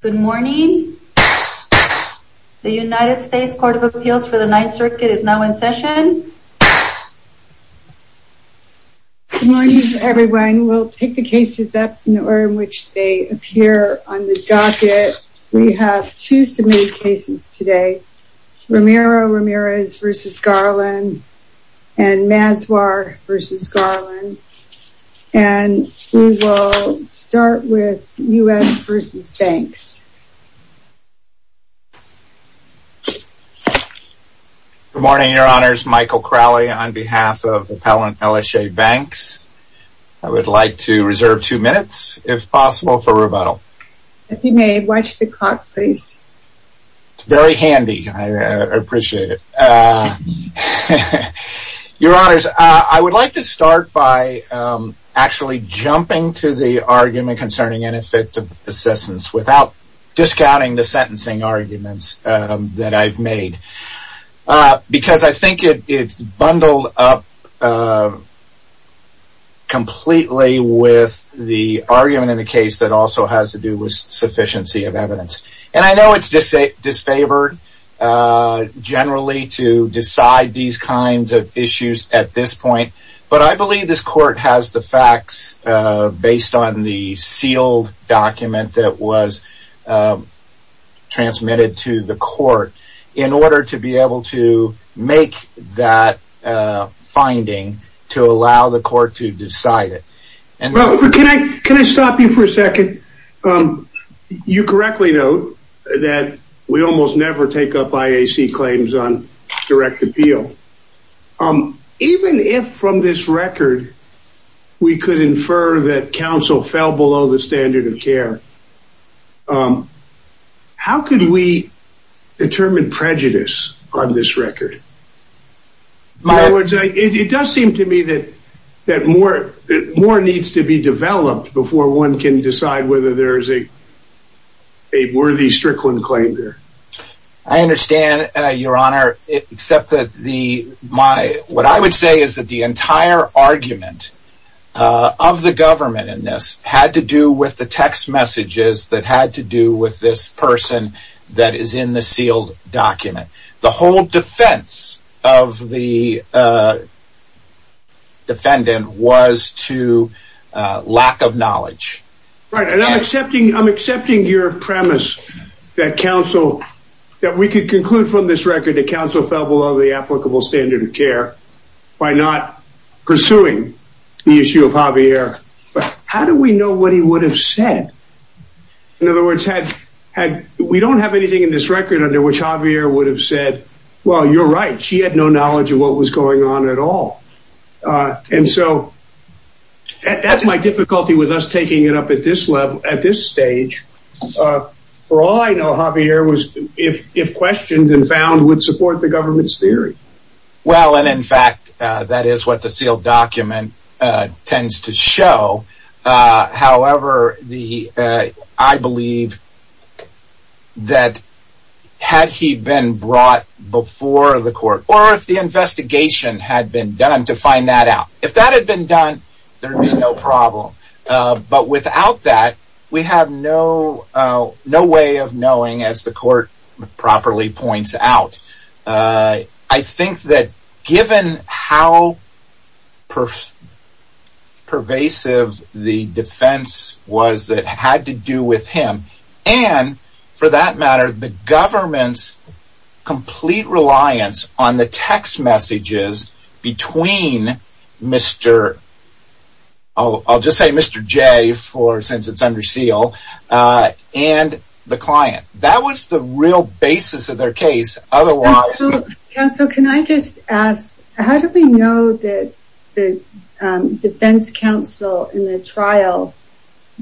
Good morning. The United States Court of Appeals for the Ninth Circuit is now in session. Good morning everyone. We'll pick the cases up in the order in which they appear on the docket. We have two submitted cases today. Romero Ramirez v. Garland and Mazwar v. Garland. And we will start with U.S. v. Banks. Good morning, Your Honors. Michael Crowley on behalf of Appellant Elishay Banks. I would like to reserve two minutes, if possible, for rebuttal. Yes, you may. Watch the clock, please. It's very handy. I appreciate it. Your Honors, I would like to start by actually jumping to the argument concerning ineffective assessments without discounting the sentencing arguments that I've made. Because I think it's bundled up completely with the argument in the case that also has to do with sufficiency of evidence. And I know it's disfavored generally to decide these kinds of issues at this point. But I believe this court has the facts based on the sealed document that was transmitted to the court in order to be able to make that finding to allow the court to decide it. Can I stop you for a second? You correctly note that we almost never take up IAC claims on direct appeal. Even if from this record we could infer that counsel fell below the standard of care, how could we determine prejudice on this record? It does seem to me that more needs to be developed before one can decide whether there is a worthy Strickland claim there. I understand, Your Honor, except that what I would say is that the entire argument of the government in this had to do with the text messages that had to do with this person that is in the sealed document. The whole defense of the defendant was to lack of knowledge. Right, and I'm accepting your premise that we could conclude from this record that counsel fell below the applicable standard of care by not pursuing the issue of Javier, but how do we know what he would have said? In other words, we don't have anything in this record under which Javier would have said, well, you're right, she had no knowledge of what was going on at all. And so that's my difficulty with us taking it up at this stage. For all I know, Javier, if questioned and found, would support the government's theory. Well, and in fact, that is what the sealed document tends to show. However, I believe that had he been brought before the court or if the investigation had been done to find that out, if that had been done, there would be no problem. But without that, we have no way of knowing, as the court properly points out. I think that given how pervasive the defense was that had to do with him, and for that matter, the government's complete reliance on the text messages between Mr. I'll just say Mr. J, since it's under seal, and the client. That was the real basis of their case. Otherwise, so can I just ask? How do we know that the defense counsel in the trial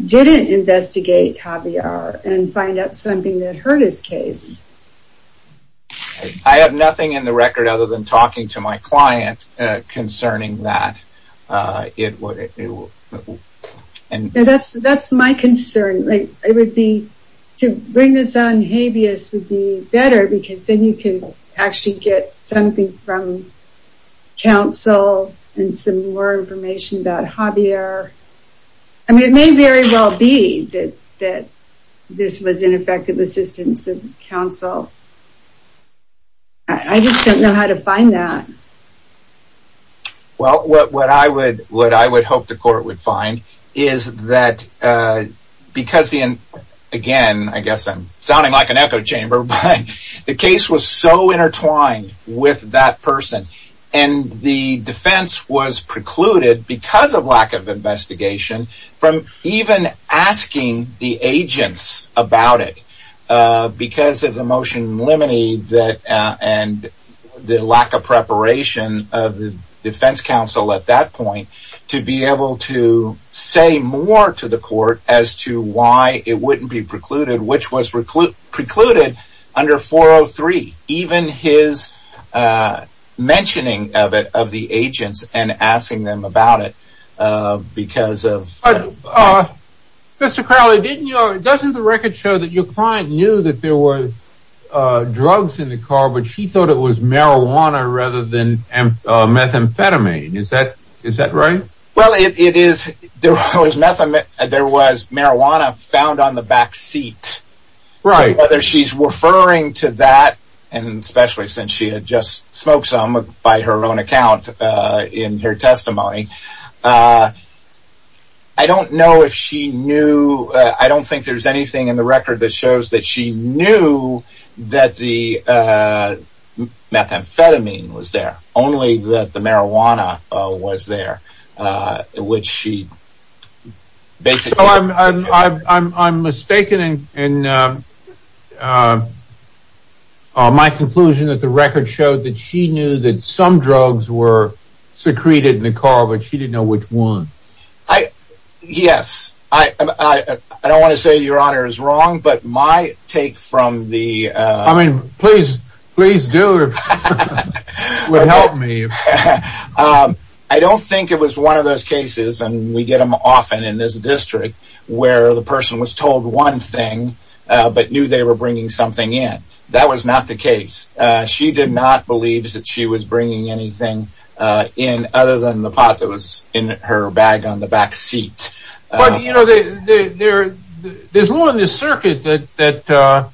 didn't investigate Javier and find out something that hurt his case? I have nothing in the record other than talking to my client concerning that. That's my concern. To bring this on Javier would be better because then you can actually get something from counsel and some more information about Javier. I mean, it may very well be that this was ineffective assistance of counsel. I just don't know how to find that. Well, what I would hope the court would find is that because, again, I guess I'm sounding like an echo chamber, but the case was so intertwined with that person, and the defense was precluded because of lack of investigation from even asking the agents about it because of the motion limiting and the lack of preparation of the defense counsel at that point to be able to say more to the court as to why it wouldn't be precluded, which was precluded under 403. Even his mentioning of the agents and asking them about it because of... But, Mr. Crowley, doesn't the record show that your client knew that there were drugs in the car, but she thought it was marijuana rather than methamphetamine. Is that right? Well, it is. There was marijuana found on the back seat. Right. Whether she's referring to that, and especially since she had just smoked some by her own account in her testimony, I don't know if she knew... I don't think there's anything in the record that shows that she knew that the methamphetamine was there, only that the marijuana was there, which she basically... So I'm mistaken in my conclusion that the record showed that she knew that some drugs were secreted in the car, but she didn't know which ones. Yes. I don't want to say Your Honor is wrong, but my take from the... I mean, please do. It would help me. I don't think it was one of those cases, and we get them often in this district, where the person was told one thing, but knew they were bringing something in. That was not the case. She did not believe that she was bringing anything in other than the pot that was in her bag on the back seat. But, you know, there's law in this circuit that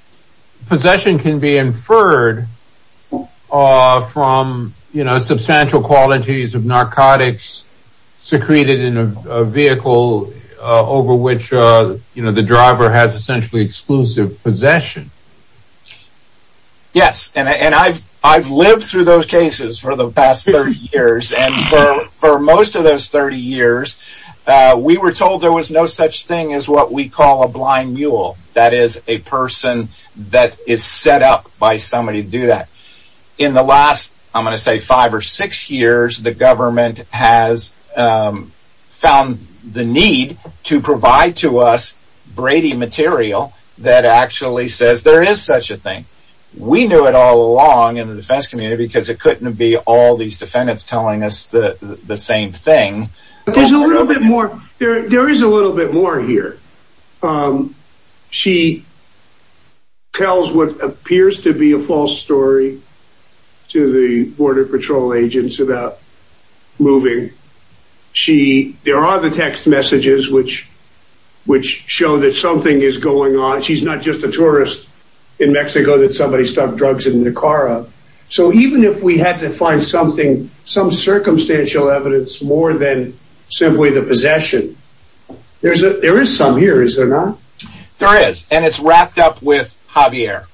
possession can be inferred from substantial qualities of narcotics secreted in a vehicle over which the driver has essentially exclusive possession. Yes, and I've lived through those cases for the past 30 years, and for most of those 30 years, we were told there was no such thing as what we call a blind mule. That is a person that is set up by somebody to do that. In the last, I'm going to say five or six years, the government has found the need to provide to us Brady material that actually says there is such a thing. We knew it all along in the defense community because it couldn't be all these defendants telling us the same thing. There is a little bit more here. She tells what appears to be a false story to the Border Patrol agents about moving. There are the text messages which show that something is going on. She's not just a tourist in Mexico that somebody stopped drugs in the car. So even if we had to find something, some circumstantial evidence more than simply the possession, there is some here, is there not? There is, and it's wrapped up with Javier.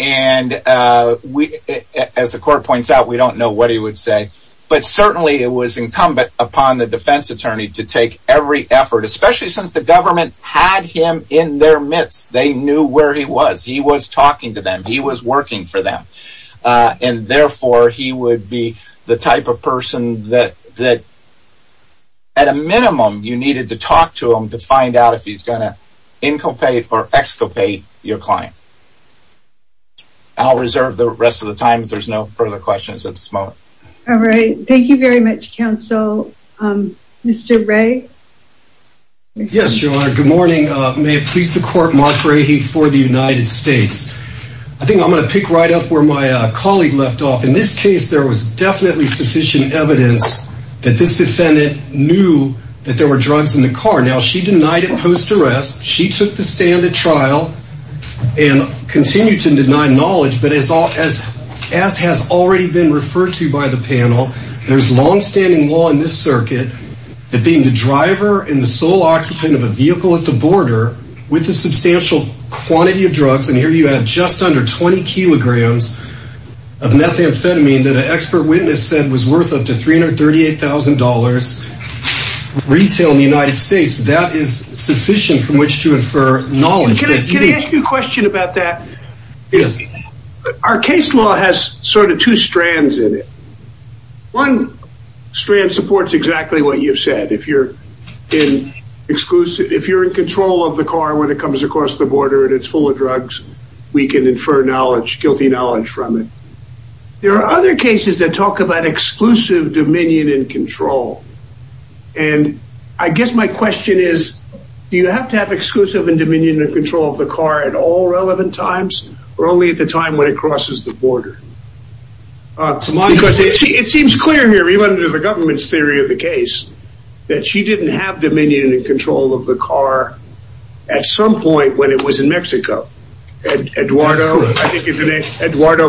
And as the court points out, we don't know what he would say, but certainly it was incumbent upon the defense attorney to take every effort, especially since the government had him in their midst. They knew where he was. He was talking to them. He was working for them. And therefore, he would be the type of person that, at a minimum, you needed to talk to him to find out if he's going to inculpate or exculpate your client. I'll reserve the rest of the time if there's no further questions at this moment. All right. Thank you very much, counsel. Mr. Ray? Yes, Your Honor. Good morning. May it please the court, Mark Ray for the United States. I think I'm going to pick right up where my colleague left off. In this case, there was definitely sufficient evidence that this defendant knew that there were drugs in the car. Now, she denied it post arrest. She took the stand at trial and continued to deny knowledge. But as has already been referred to by the panel, there's longstanding law in this circuit that being the driver and the sole occupant of a vehicle at the border with a substantial quantity of drugs, and here you have just under 20 kilograms of methamphetamine that an expert witness said was worth up to $338,000 retail in the United States, that is sufficient from which to infer knowledge. Can I ask you a question about that? Yes. Our case law has sort of two strands in it. One strand supports exactly what you've said. If you're in control of the car when it comes across the border and it's full of drugs, we can infer guilty knowledge from it. There are other cases that talk about exclusive dominion and control. And I guess my question is, do you have to have exclusive dominion and control of the car at all relevant times or only at the time when it crosses the border? It seems clear here, even under the government's theory of the case, that she didn't have dominion and control of the car at some point when it was in Mexico. Eduardo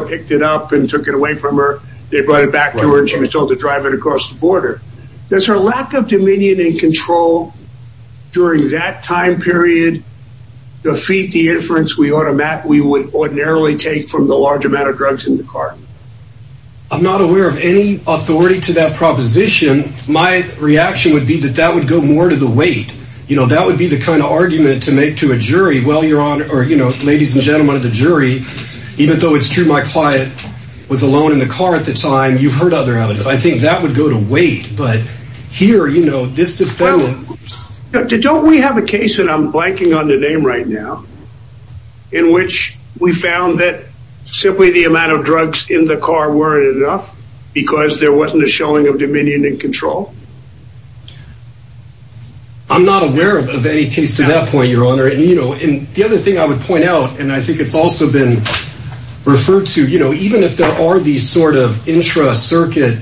picked it up and took it away from her. They brought it back to her and she was told to drive it across the border. Does her lack of dominion and control during that time period defeat the inference we would ordinarily take from the large amount of drugs in the car? I'm not aware of any authority to that proposition. My reaction would be that that would go more to the weight. That would be the kind of argument to make to a jury. Ladies and gentlemen of the jury, even though it's true my client was alone in the car at the time, you've heard other evidence. I think that would go to weight. Don't we have a case, and I'm blanking on the name right now, in which we found that simply the amount of drugs in the car weren't enough because there wasn't a showing of dominion and control? I'm not aware of any case to that point, Your Honor. The other thing I would point out, and I think it's also been referred to, even if there are these sort of intra-circuit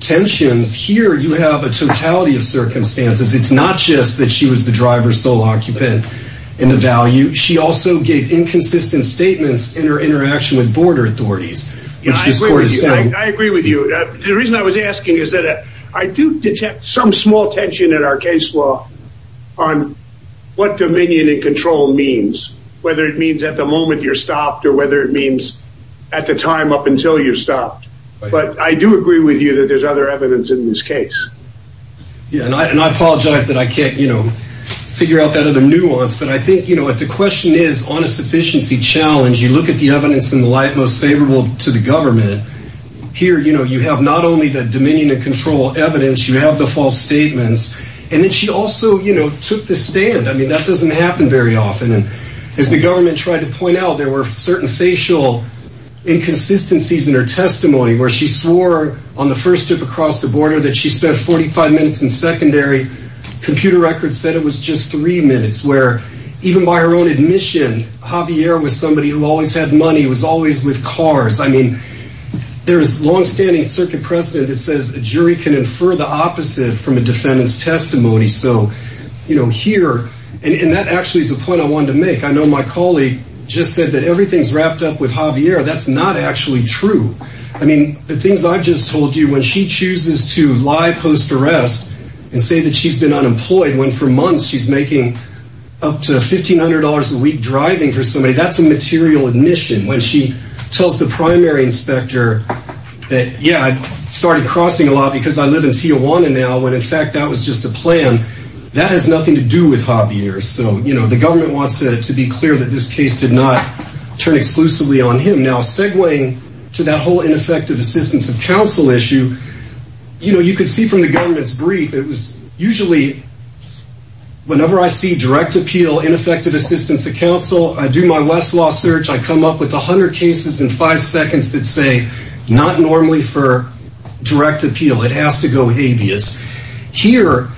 tensions, here you have a totality of circumstances. It's not just that she was the driver's sole occupant in the value. She also gave inconsistent statements in her interaction with border authorities. I agree with you. The reason I was asking is that I do detect some small tension in our case law on what dominion and control means, whether it means at the moment you're stopped or whether it means at the time up until you're stopped. But I do agree with you that there's other evidence in this case. I apologize that I can't figure out that other nuance, but I think the question is on a sufficiency challenge, you look at the evidence in the light most favorable to the government. Here you have not only the dominion and control evidence, you have the false statements. And then she also took the stand. I mean, that doesn't happen very often. As the government tried to point out, there were certain facial inconsistencies in her testimony where she swore on the first trip across the border that she spent 45 minutes in secondary. Computer records said it was just three minutes, where even by her own admission, Javier was somebody who always had money, was always with cars. I mean, there is longstanding circuit precedent that says a jury can infer the opposite from a defendant's testimony. So, you know, here and that actually is the point I wanted to make. I know my colleague just said that everything's wrapped up with Javier. That's not actually true. I mean, the things I've just told you, when she chooses to lie post arrest and say that she's been unemployed when for months she's making up to fifteen hundred dollars a week driving for somebody, that's a material admission. When she tells the primary inspector that, yeah, I started crossing a lot because I live in Tijuana now, when in fact that was just a plan, that has nothing to do with Javier. So, you know, the government wants to be clear that this case did not turn exclusively on him. Now, segueing to that whole ineffective assistance of counsel issue, you know, you can see from the government's brief, it was usually whenever I see direct appeal, ineffective assistance of counsel, I do my Westlaw search. I come up with a hundred cases in five seconds that say not normally for direct appeal. It has to go habeas. Here,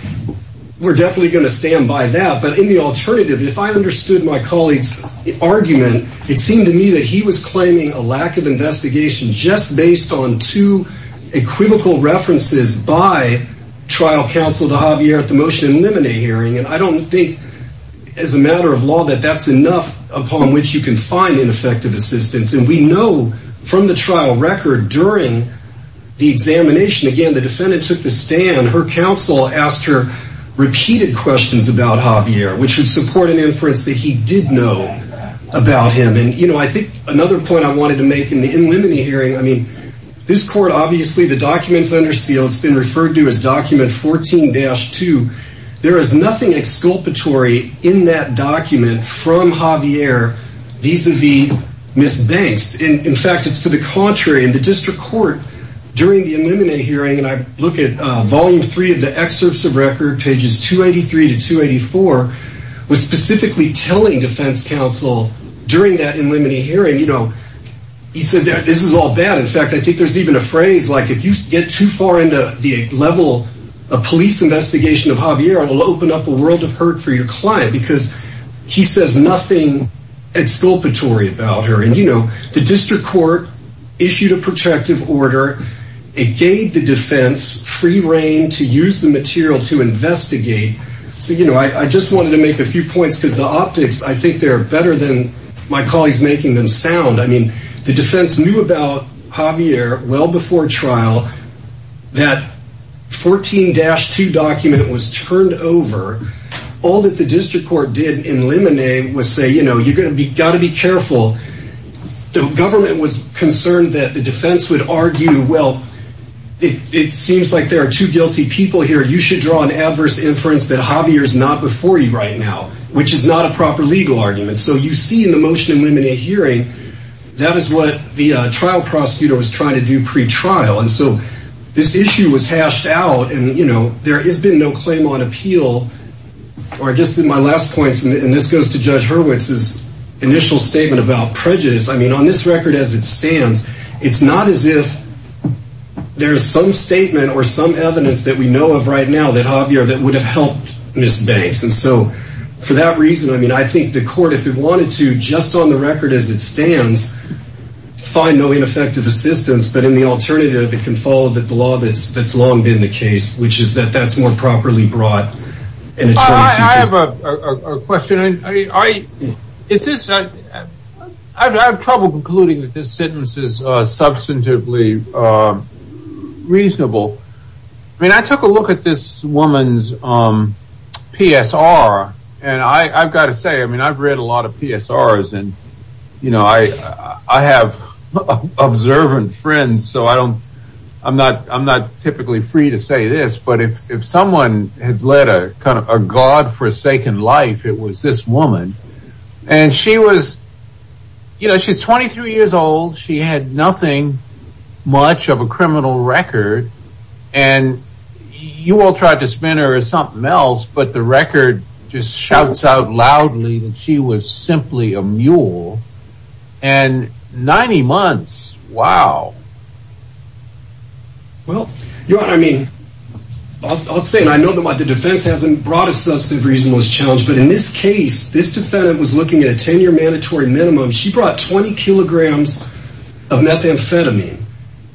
we're definitely going to stand by that. But in the alternative, if I understood my colleague's argument, it seemed to me that he was claiming a lack of investigation just based on two equivocal references by trial counsel to Javier at the motion to eliminate hearing. And I don't think as a matter of law that that's enough upon which you can find ineffective assistance. And we know from the trial record during the examination, again, the defendant took the stand. Her counsel asked her repeated questions about Javier, which would support an inference that he did know about him. And, you know, I think another point I wanted to make in the in limited hearing, I mean, this court, obviously the documents under seal, it's been referred to as document 14-2. There is nothing exculpatory in that document from Javier vis-a-vis Ms. Banks. In fact, it's to the contrary. And the district court during the eliminate hearing, and I look at volume three of the excerpts of record, pages 283 to 284, was specifically telling defense counsel during that eliminate hearing, you know, he said that this is all bad. In fact, I think there's even a phrase like if you get too far into the level of police investigation of Javier, it will open up a world of hurt for your client because he says nothing exculpatory about her. And, you know, the district court issued a protective order. It gave the defense free reign to use the material to investigate. So, you know, I just wanted to make a few points because the optics, I think they're better than my colleagues making them sound. I mean, the defense knew about Javier well before trial that 14-2 document was turned over. All that the district court did in eliminate was say, you know, you're going to be got to be careful. The government was concerned that the defense would argue. Well, it seems like there are two guilty people here. You should draw an adverse inference that Javier is not before you right now, which is not a proper legal argument. So you see in the motion eliminate hearing. That is what the trial prosecutor was trying to do pretrial. And so this issue was hashed out. And, you know, there has been no claim on appeal or just in my last points. And this goes to Judge Hurwitz's initial statement about prejudice. I mean, on this record, as it stands, it's not as if there is some statement or some evidence that we know of right now that Javier that would have helped Miss Banks. And so for that reason, I mean, I think the court, if it wanted to, just on the record, as it stands, find no ineffective assistance. But in the alternative, it can follow that the law that's that's long been the case, which is that that's more properly brought in. I have a question. I mean, I it's just I have trouble concluding that this sentence is substantively reasonable. I mean, I took a look at this woman's P.S.R. And I've got to say, I mean, I've read a lot of P.S.R. And, you know, I have observant friends, so I don't I'm not I'm not typically free to say this. But if someone had led a kind of a godforsaken life, it was this woman. And she was you know, she's 23 years old. She had nothing much of a criminal record. And you all tried to spin her or something else. But the record just shouts out loudly that she was simply a mule and 90 months. Wow. Well, you know what I mean? I'll say I know that the defense hasn't brought a substantive reason was challenged. But in this case, this defendant was looking at a 10 year mandatory minimum. She brought 20 kilograms of methamphetamine.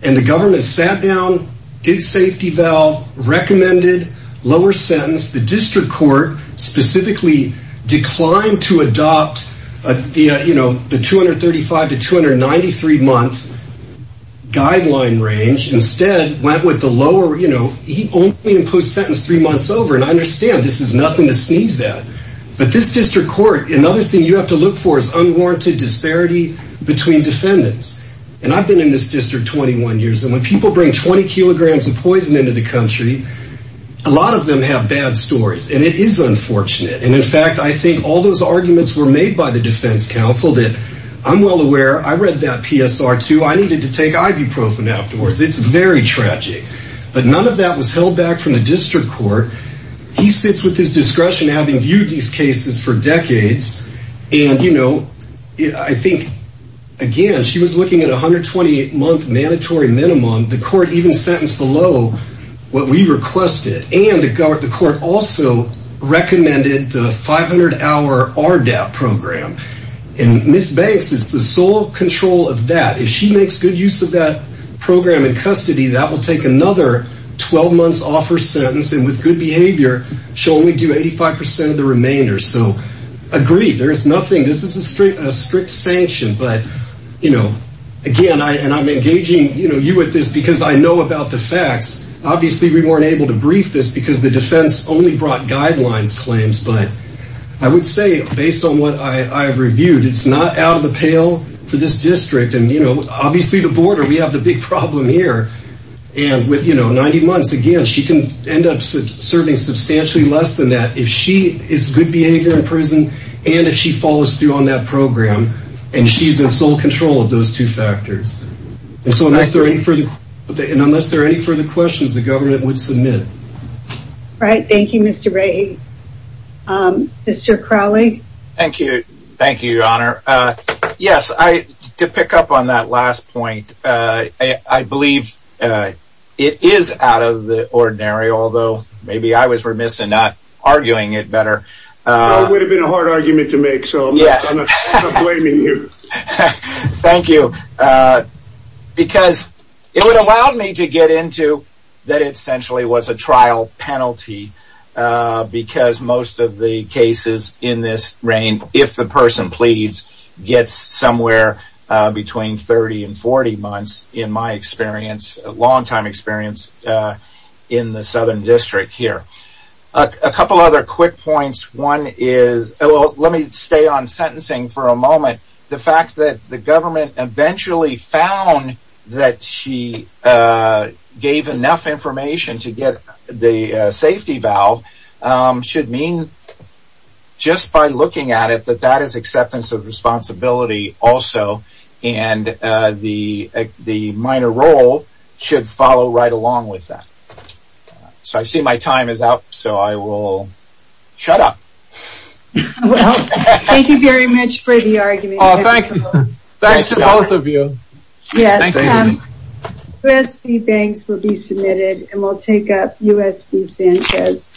And the government sat down, did safety valve, recommended lower sentence. The district court specifically declined to adopt, you know, the 235 to 293 month guideline range. Instead, went with the lower, you know, he only imposed sentence three months over. And I understand this is nothing to sneeze at. But this district court, another thing you have to look for is unwarranted disparity between defendants. And I've been in this district 21 years. And when people bring 20 kilograms of poison into the country, a lot of them have bad stories. And it is unfortunate. And in fact, I think all those arguments were made by the defense counsel that I'm well aware. I read that PSR, too. I needed to take ibuprofen afterwards. It's very tragic. But none of that was held back from the district court. He sits with his discretion, having viewed these cases for decades. And, you know, I think, again, she was looking at 128 month mandatory minimum. The court even sentenced below what we requested. And the court also recommended the 500 hour RDAP program. And Ms. Banks is the sole control of that. If she makes good use of that program in custody, that will take another 12 months off her sentence. And with good behavior, she'll only do 85 percent of the remainder. So, agreed. There is nothing. This is a strict sanction. But, you know, again, and I'm engaging you with this because I know about the facts. Obviously, we weren't able to brief this because the defense only brought guidelines claims. But I would say, based on what I've reviewed, it's not out of the pale for this district. And, you know, obviously the border, we have the big problem here. And with, you know, 90 months, again, she can end up serving substantially less than that. If she is good behavior in prison and if she follows through on that program. And she's in sole control of those two factors. And so, unless there are any further questions, the government would submit. All right. Thank you, Mr. Ray. Thank you. Thank you, Your Honor. Yes, to pick up on that last point, I believe it is out of the ordinary, although maybe I was remiss in not arguing it better. It would have been a hard argument to make, so I'm not blaming you. Thank you. Because it would allow me to get into that it essentially was a trial penalty. Because most of the cases in this reign, if the person pleads, gets somewhere between 30 and 40 months. In my experience, long time experience, in the Southern District here. A couple other quick points. One is, let me stay on sentencing for a moment. The fact that the government eventually found that she gave enough information to get the safety valve. Should mean, just by looking at it, that that is acceptance of responsibility also. And the minor role should follow right along with that. So, I see my time is up. So, I will shut up. Well, thank you very much for the argument. Thanks to both of you. Yes. Thank you. USB Banks will be submitted and we'll take up USB Sanchez.